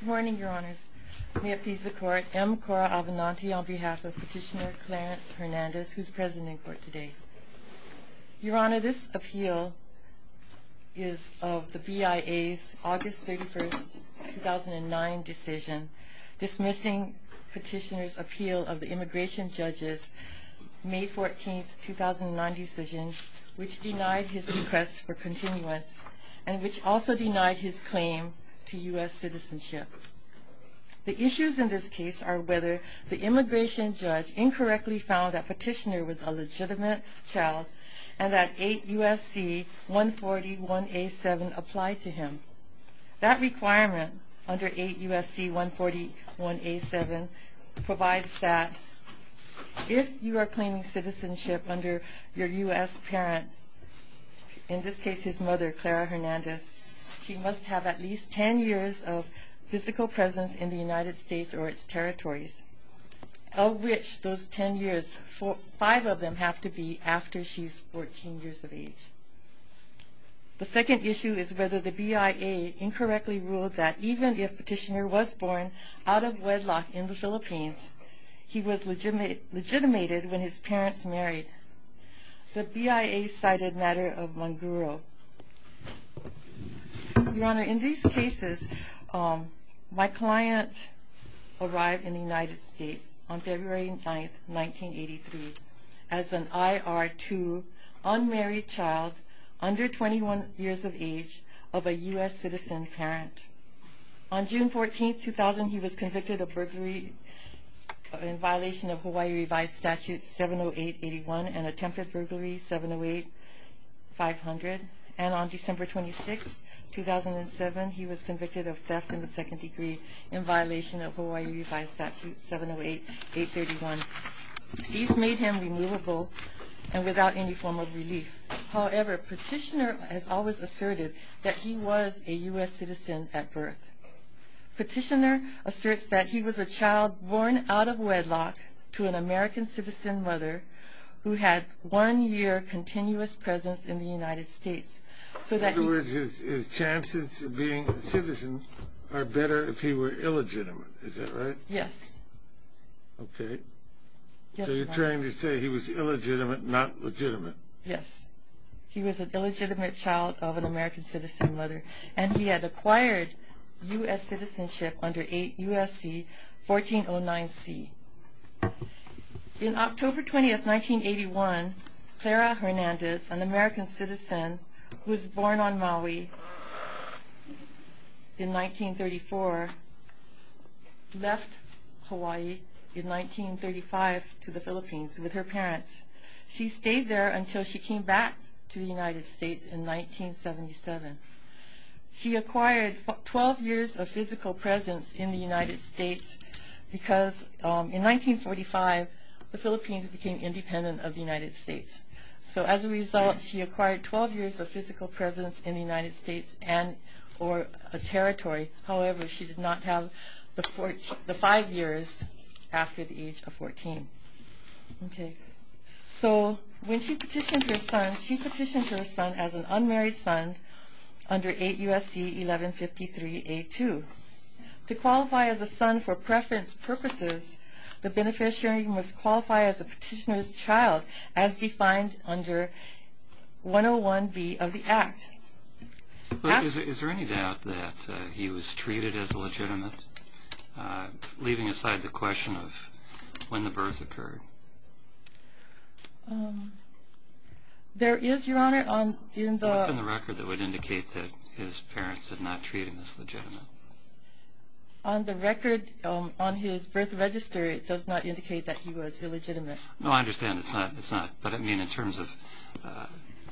Good morning, Your Honors. May it please the Court, M. Cora Alvinanti on behalf of Petitioner Clarence Hernandez, who's present in court today. Your Honor, this appeal is of the BIA's August 31st, 2009 decision dismissing Petitioner's appeal of the immigration judge's May 14th, 2009 decision, which denied his request for continuance and which also denied his claim to U.S. citizenship. The issues in this case are whether the immigration judge incorrectly found that Petitioner was a legitimate child and that 8 U.S.C. 140.1A.7 applied to him. That requirement under 8 U.S.C. 140.1A.7 provides that if you are claiming citizenship under your U.S. parent, in this case his mother, Clara Hernandez, she must have at least 10 years of physical presence in the United States or its territories, of which those 10 years, five of them, have to be after she's 14 years of age. The second issue is whether the BIA incorrectly ruled that even if Petitioner was born out of wedlock in the Philippines, he was legitimated when his parents married. The BIA cited matter of Manguro. Your Honor, in these cases, my client arrived in the United States on February 9th, 1983, as an IR2, unmarried child, under 21 years of age, of a U.S. citizen parent. On June 14th, 2000, he was convicted of burglary in violation of Hawaii Revised Statute 708.81 and attempted burglary 708.500. And on December 26th, 2007, he was convicted of theft in the second degree in violation of Hawaii Revised Statute 708.831. These made him removable and without any form of relief. However, Petitioner has always asserted that he was a U.S. citizen at birth. Petitioner asserts that he was a child born out of wedlock to an American citizen mother who had one year continuous presence in the United States. In other words, his chances of being a citizen are better if he were illegitimate. Is that right? Yes. Okay. Yes, Your Honor. So you're trying to say he was illegitimate, not legitimate? Yes. He was an illegitimate child of an American citizen mother, and he had acquired U.S. citizenship under USC 1409C. In October 20th, 1981, Clara Hernandez, an American citizen who was born on Maui in 1934, left Hawaii in 1935 to the Philippines with her parents. She stayed there until she came back to the United States in 1977. She acquired 12 years of physical presence in the United States because in 1945, the Philippines became independent of the United States. So as a result, she acquired 12 years of physical presence in the United States and or a territory. However, she did not have the five years after the age of 14. Okay. So when she petitioned her son, she petitioned her son as an unmarried son under 8 U.S.C. 1153A2. To qualify as a son for preference purposes, the beneficiary must qualify as a petitioner's child as defined under 101B of the Act. Is there any doubt that he was treated as illegitimate, leaving aside the question of when the birth occurred? There is, Your Honor. What's in the record that would indicate that his parents did not treat him as legitimate? On the record on his birth register, it does not indicate that he was illegitimate. No, I understand. It's not. But I mean in terms of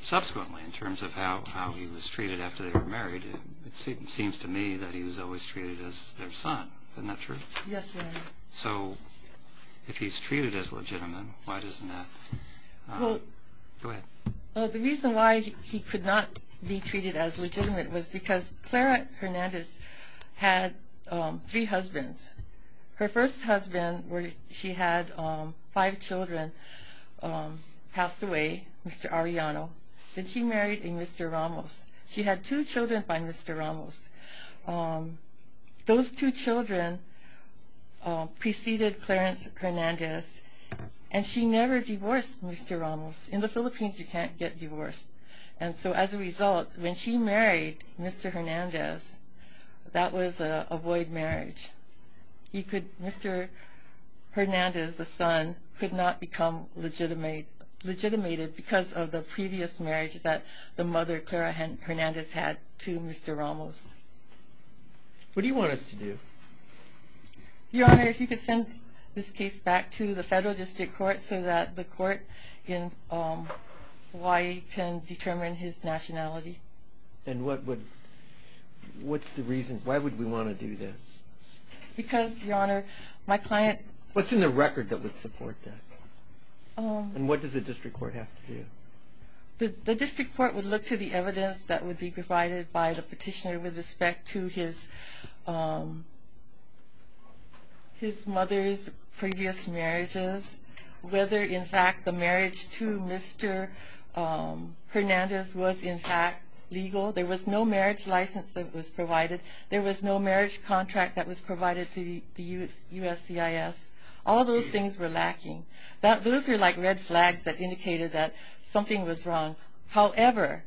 subsequently, in terms of how he was treated after they were married, it seems to me that he was always treated as their son. Isn't that true? Yes, Your Honor. So if he's treated as legitimate, why doesn't that? Go ahead. The reason why he could not be treated as legitimate was because Clara Hernandez had three husbands. Her first husband, she had five children passed away, Mr. Arellano. Then she married a Mr. Ramos. She had two children by Mr. Ramos. Those two children preceded Clarence Hernandez, and she never divorced Mr. Ramos. In the Philippines, you can't get divorced. And so as a result, when she married Mr. Hernandez, that was a void marriage. Mr. Hernandez, the son, could not become legitimated because of the previous marriage that the mother, Clara Hernandez, had to Mr. Ramos. What do you want us to do? Your Honor, if you could send this case back to the federal district court so that the court in Hawaii can determine his nationality. And what's the reason? Why would we want to do this? Because, Your Honor, my client— What's in the record that would support that? And what does the district court have to do? The district court would look to the evidence that would be provided by the petitioner with respect to his mother's previous marriages, whether, in fact, the marriage to Mr. Hernandez was, in fact, legal. There was no marriage license that was provided. There was no marriage contract that was provided to the USCIS. All those things were lacking. Those were like red flags that indicated that something was wrong. However,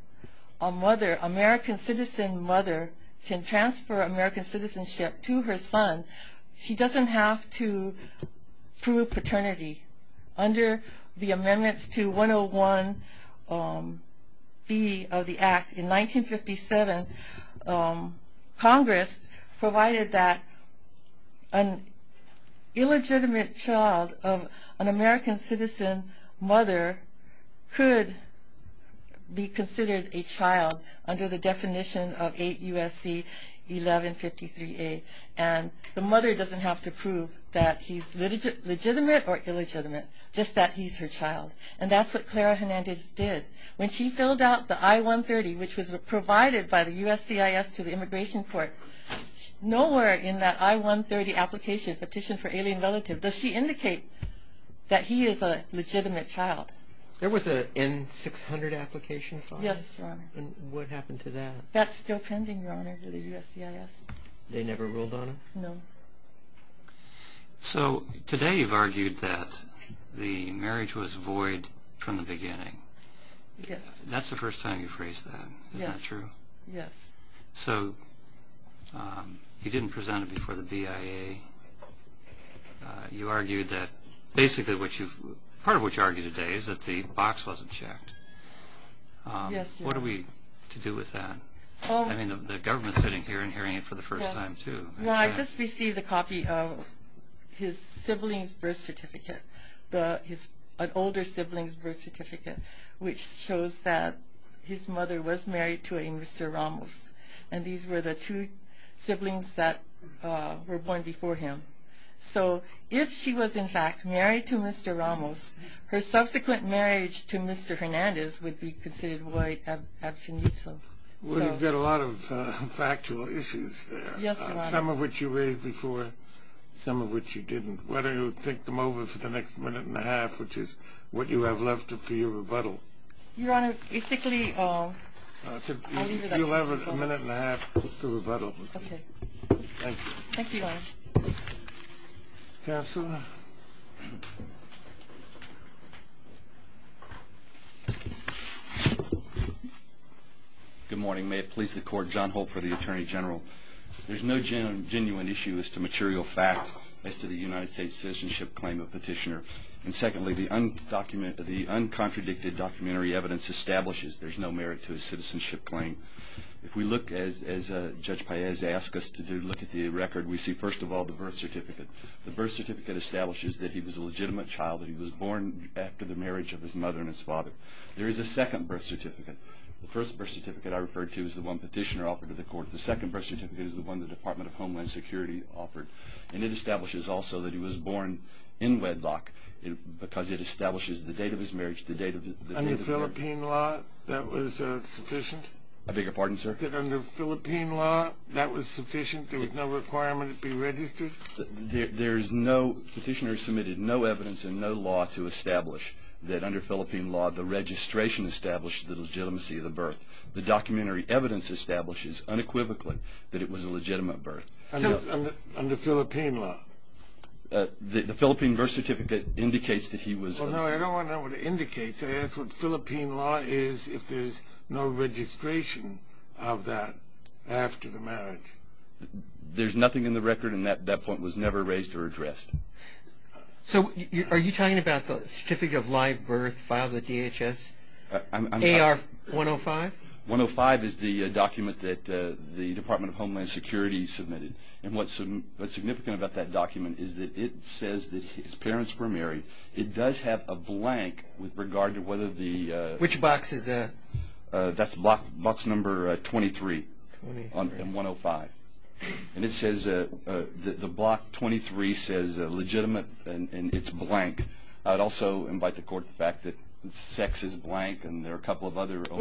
a mother, an American citizen mother, can transfer American citizenship to her son. She doesn't have to prove paternity. Under the amendments to 101B of the Act in 1957, Congress provided that an illegitimate child of an American citizen mother could be considered a child under the definition of 8 U.S.C. 1153A. And the mother doesn't have to prove that he's legitimate or illegitimate, just that he's her child. And that's what Clara Hernandez did. When she filled out the I-130, which was provided by the USCIS to the immigration court, nowhere in that I-130 application, Petition for Alien Relative, does she indicate that he is a legitimate child. There was an N-600 application filed. Yes, Your Honor. And what happened to that? That's still pending, Your Honor, for the USCIS. They never ruled on it? No. So today you've argued that the marriage was void from the beginning. Yes. That's the first time you've raised that. Yes. Is that true? Yes. So you didn't present it before the BIA. You argued that basically what you've, part of what you argue today is that the box wasn't checked. Yes, Your Honor. What are we to do with that? I mean, the government's sitting here and hearing it for the first time, too. Well, I just received a copy of his sibling's birth certificate, an older sibling's birth certificate, which shows that his mother was married to a Mr. Ramos, and these were the two siblings that were born before him. So if she was, in fact, married to Mr. Ramos, her subsequent marriage to Mr. Hernandez would be considered void ad finitum. Well, you've got a lot of factual issues there. Yes, Your Honor. Some of which you raised before, some of which you didn't. Why don't you take them over for the next minute and a half, which is what you have left for your rebuttal. Your Honor, basically, I'll leave it at that. You'll have a minute and a half to rebuttal. Okay. Thank you. Thank you, Your Honor. Counsel? Good morning. May it please the Court. John Holt for the Attorney General. There's no genuine issue as to material facts as to the United States citizenship claim of Petitioner. And secondly, the uncontradicted documentary evidence establishes there's no merit to a citizenship claim. If we look, as Judge Paez asked us to do, look at the record, we see, first of all, the birth certificate. The birth certificate establishes that he was a legitimate child, that he was born after the marriage of his mother and his father. There is a second birth certificate. The first birth certificate I referred to is the one Petitioner offered to the Court. The second birth certificate is the one the Department of Homeland Security offered. And it establishes also that he was born in wedlock because it establishes the date of his marriage, the date of his birth. Under Philippine law, that was sufficient? I beg your pardon, sir? Under Philippine law, that was sufficient? There was no requirement to be registered? There is no, Petitioner submitted no evidence and no law to establish that under Philippine law, the registration established the legitimacy of the birth. The documentary evidence establishes unequivocally that it was a legitimate birth. Under Philippine law? The Philippine birth certificate indicates that he was a- Well, no, I don't want to know what it indicates. I asked what Philippine law is if there's no registration of that after the marriage. There's nothing in the record, and that point was never raised or addressed. So are you talking about the certificate of live birth filed at DHS? AR-105? 105 is the document that the Department of Homeland Security submitted. And what's significant about that document is that it says that his parents were married. It does have a blank with regard to whether the- Which box is that? That's box number 23 on 105. And it says the block 23 says legitimate, and it's blank. I'd also invite the court to the fact that sex is blank, and there are a couple of other- So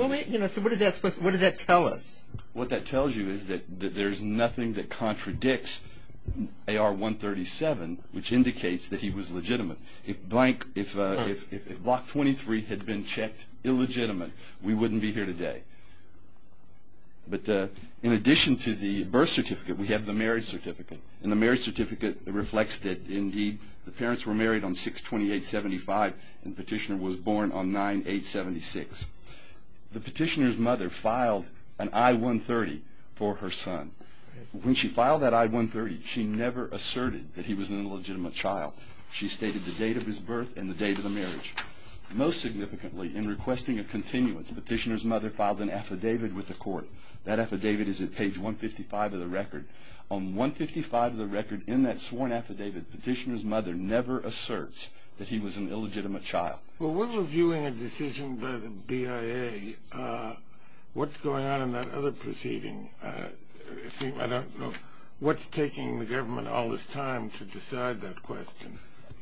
what does that tell us? What that tells you is that there's nothing that contradicts AR-137, which indicates that he was legitimate. If block 23 had been checked illegitimate, we wouldn't be here today. But in addition to the birth certificate, we have the marriage certificate, and the marriage certificate reflects that, indeed, the parents were married on 6-28-75, and the petitioner was born on 9-8-76. The petitioner's mother filed an I-130 for her son. When she filed that I-130, she never asserted that he was an illegitimate child. She stated the date of his birth and the date of the marriage. Most significantly, in requesting a continuance, petitioner's mother filed an affidavit with the court. That affidavit is at page 155 of the record. On 155 of the record, in that sworn affidavit, petitioner's mother never asserts that he was an illegitimate child. Well, when reviewing a decision by the BIA, what's going on in that other proceeding? I don't know what's taking the government all this time to decide that question.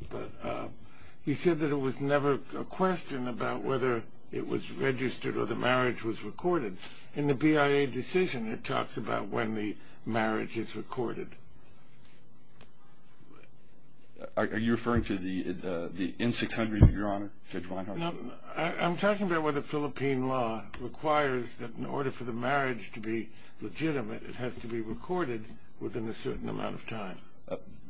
But he said that it was never a question about whether it was registered or the marriage was recorded. In the BIA decision, it talks about when the marriage is recorded. Are you referring to the N-600, Your Honor? I'm talking about whether Philippine law requires that in order for the marriage to be legitimate, it has to be recorded within a certain amount of time.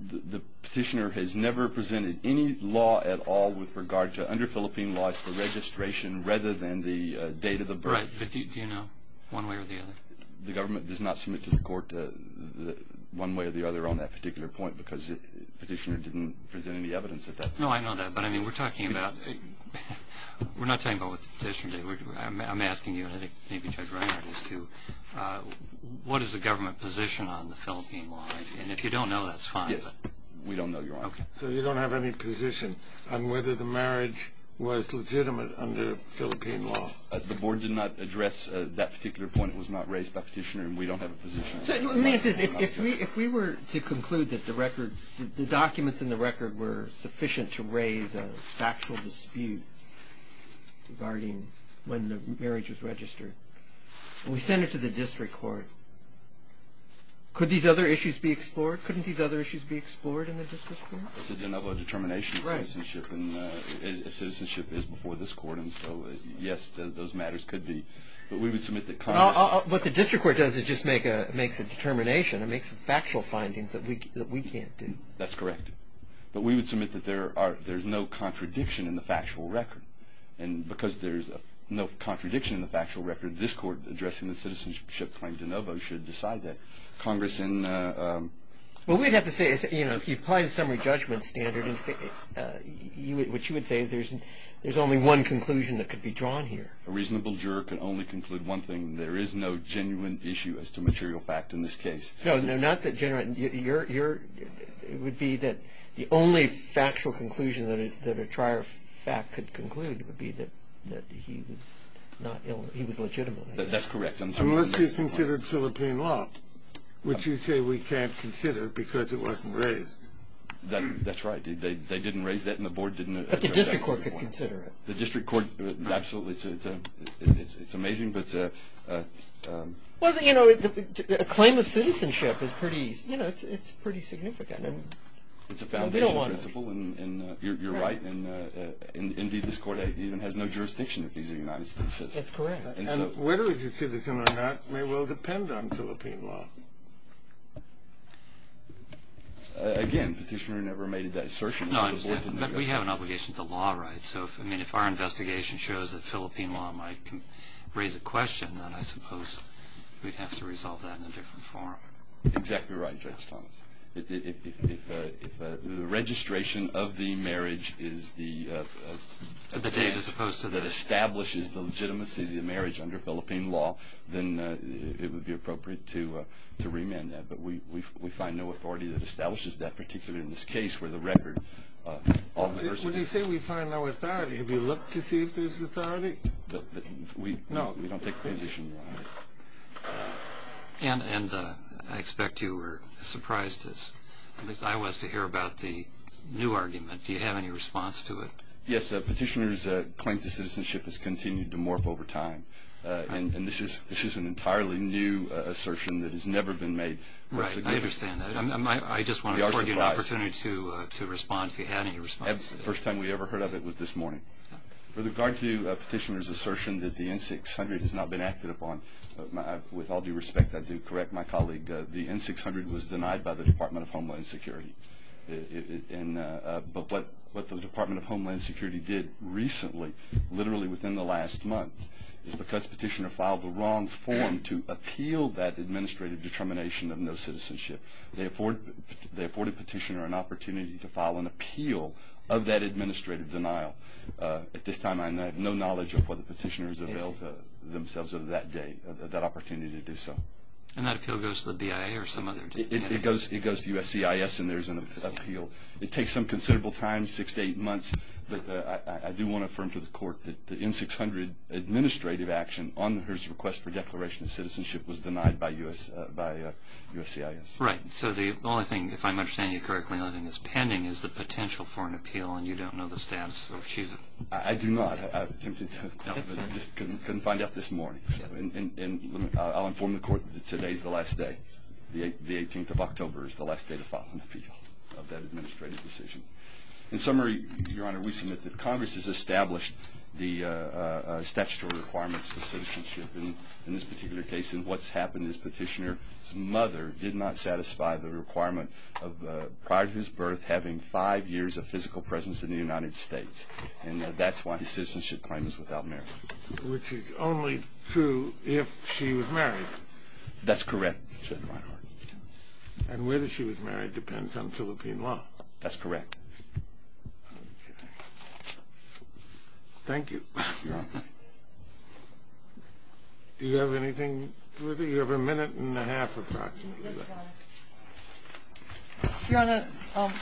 The petitioner has never presented any law at all with regard to, under Philippine law, it's the registration rather than the date of the birth. Right, but do you know one way or the other? The government does not submit to the court one way or the other on that particular point because the petitioner didn't present any evidence at that point. No, I know that. But, I mean, we're talking about – we're not talking about what the petitioner did. I'm asking you, and I think maybe Judge Reinhardt is too, what is the government position on the Philippine law? And if you don't know, that's fine. We don't know, Your Honor. So you don't have any position on whether the marriage was legitimate under Philippine law. The board did not address that particular point. It was not raised by the petitioner, and we don't have a position. If we were to conclude that the record – the documents in the record were sufficient to raise a factual dispute regarding when the marriage was registered, and we sent it to the district court, could these other issues be explored? Couldn't these other issues be explored in the district court? It's a de novo determination of citizenship, and citizenship is before this court, and so, yes, those matters could be. But we would submit that Congress – What the district court does is just makes a determination. It makes factual findings that we can't do. That's correct. But we would submit that there's no contradiction in the factual record, and because there's no contradiction in the factual record, this court, addressing the citizenship claim de novo, should decide that Congress and – What we'd have to say is, you know, if you apply the summary judgment standard, what you would say is there's only one conclusion that could be drawn here. A reasonable juror can only conclude one thing. There is no genuine issue as to material fact in this case. No, no, not that genuine. Your – it would be that the only factual conclusion that a trier of fact could conclude would be that he was not – he was legitimate. That's correct. Unless you considered Philippine loft, which you say we can't consider because it wasn't raised. That's right. They didn't raise that, and the board didn't address that. But the district court could consider it. The district court – absolutely. It's amazing, but – Well, you know, a claim of citizenship is pretty – you know, it's pretty significant. It's a foundational principle, and you're right. Indeed, this court even has no jurisdiction if he's a United States citizen. That's correct. And whether he's a citizen or not may well depend on Philippine loft. Again, petitioner never made that assertion. No, I understand. But we have an obligation to the law, right? So, I mean, if our investigation shows that Philippine loft might raise a question, then I suppose we'd have to resolve that in a different form. Exactly right, Judge Thomas. If the registration of the marriage is the – The date as opposed to the – That establishes the legitimacy of the marriage under Philippine loft, then it would be appropriate to remand that. But we find no authority that establishes that, particularly in this case where the record – What do you say we find no authority? Have you looked to see if there's authority? No, we don't take position on it. And I expect you were surprised, at least I was, to hear about the new argument. Do you have any response to it? Yes, Petitioner's claim to citizenship has continued to morph over time, and this is an entirely new assertion that has never been made. Right, I understand that. I just want to give you an opportunity to respond if you have any response. The first time we ever heard of it was this morning. With regard to Petitioner's assertion that the N-600 has not been acted upon, with all due respect, I do correct my colleague, the N-600 was denied by the Department of Homeland Security. But what the Department of Homeland Security did recently, literally within the last month, is because Petitioner filed the wrong form to appeal that administrative determination of no citizenship. They afforded Petitioner an opportunity to file an appeal of that administrative denial. At this time, I have no knowledge of whether Petitioner has availed themselves of that opportunity to do so. And that appeal goes to the BIA or some other? It goes to USCIS and there's an appeal. It takes some considerable time, six to eight months, but I do want to affirm to the Court that the N-600 administrative action on her request for declaration of citizenship was denied by USCIS. Right. So the only thing, if I'm understanding you correctly, the only thing that's pending is the potential for an appeal and you don't know the status of she? I do not. I have attempted to, but I just couldn't find out this morning. And I'll inform the Court that today's the last day. The 18th of October is the last day to file an appeal of that administrative decision. In summary, Your Honor, we submit that Congress has established the statutory requirements for citizenship. In this particular case, what's happened is Petitioner's mother did not satisfy the requirement of prior to his birth having five years of physical presence in the United States. And that's why the citizenship claim is without merit. Which is only true if she was married. That's correct, Your Honor. And whether she was married depends on Philippine law. That's correct. Thank you. Your Honor. Do you have anything further? You have a minute and a half, approximately. Yes, Your Honor. Your Honor,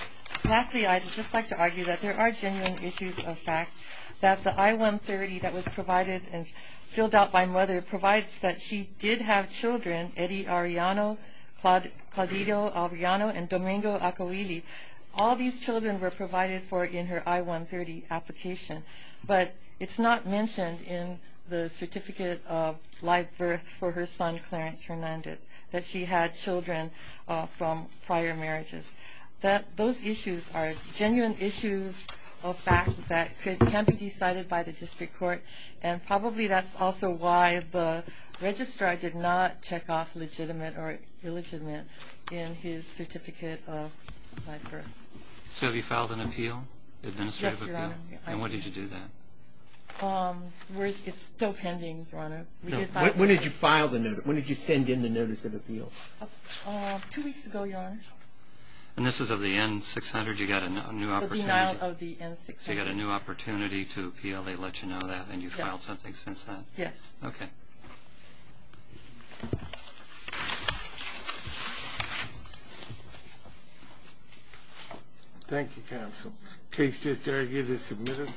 lastly, I'd just like to argue that there are genuine issues of fact, that the I-130 that was provided and filled out by mother provides that she did have children, Eddie Arellano, Claudito Arellano, and Domingo Acoili. All these children were provided for in her I-130 application. But it's not mentioned in the certificate of live birth for her son, Clarence Hernandez, that she had children from prior marriages. Those issues are genuine issues of fact that can be decided by the district court. And probably that's also why the registrar did not check off legitimate or illegitimate in his certificate of live birth. So have you filed an appeal, administrative appeal? Yes, Your Honor. And when did you do that? It's still pending, Your Honor. When did you file the notice? When did you send in the notice of appeal? Two weeks ago, Your Honor. And this is of the N-600? The denial of the N-600. So you got a new opportunity to appeal. They let you know that, and you filed something since then? Yes. Okay. Thank you, counsel. The case is there. You can submit it.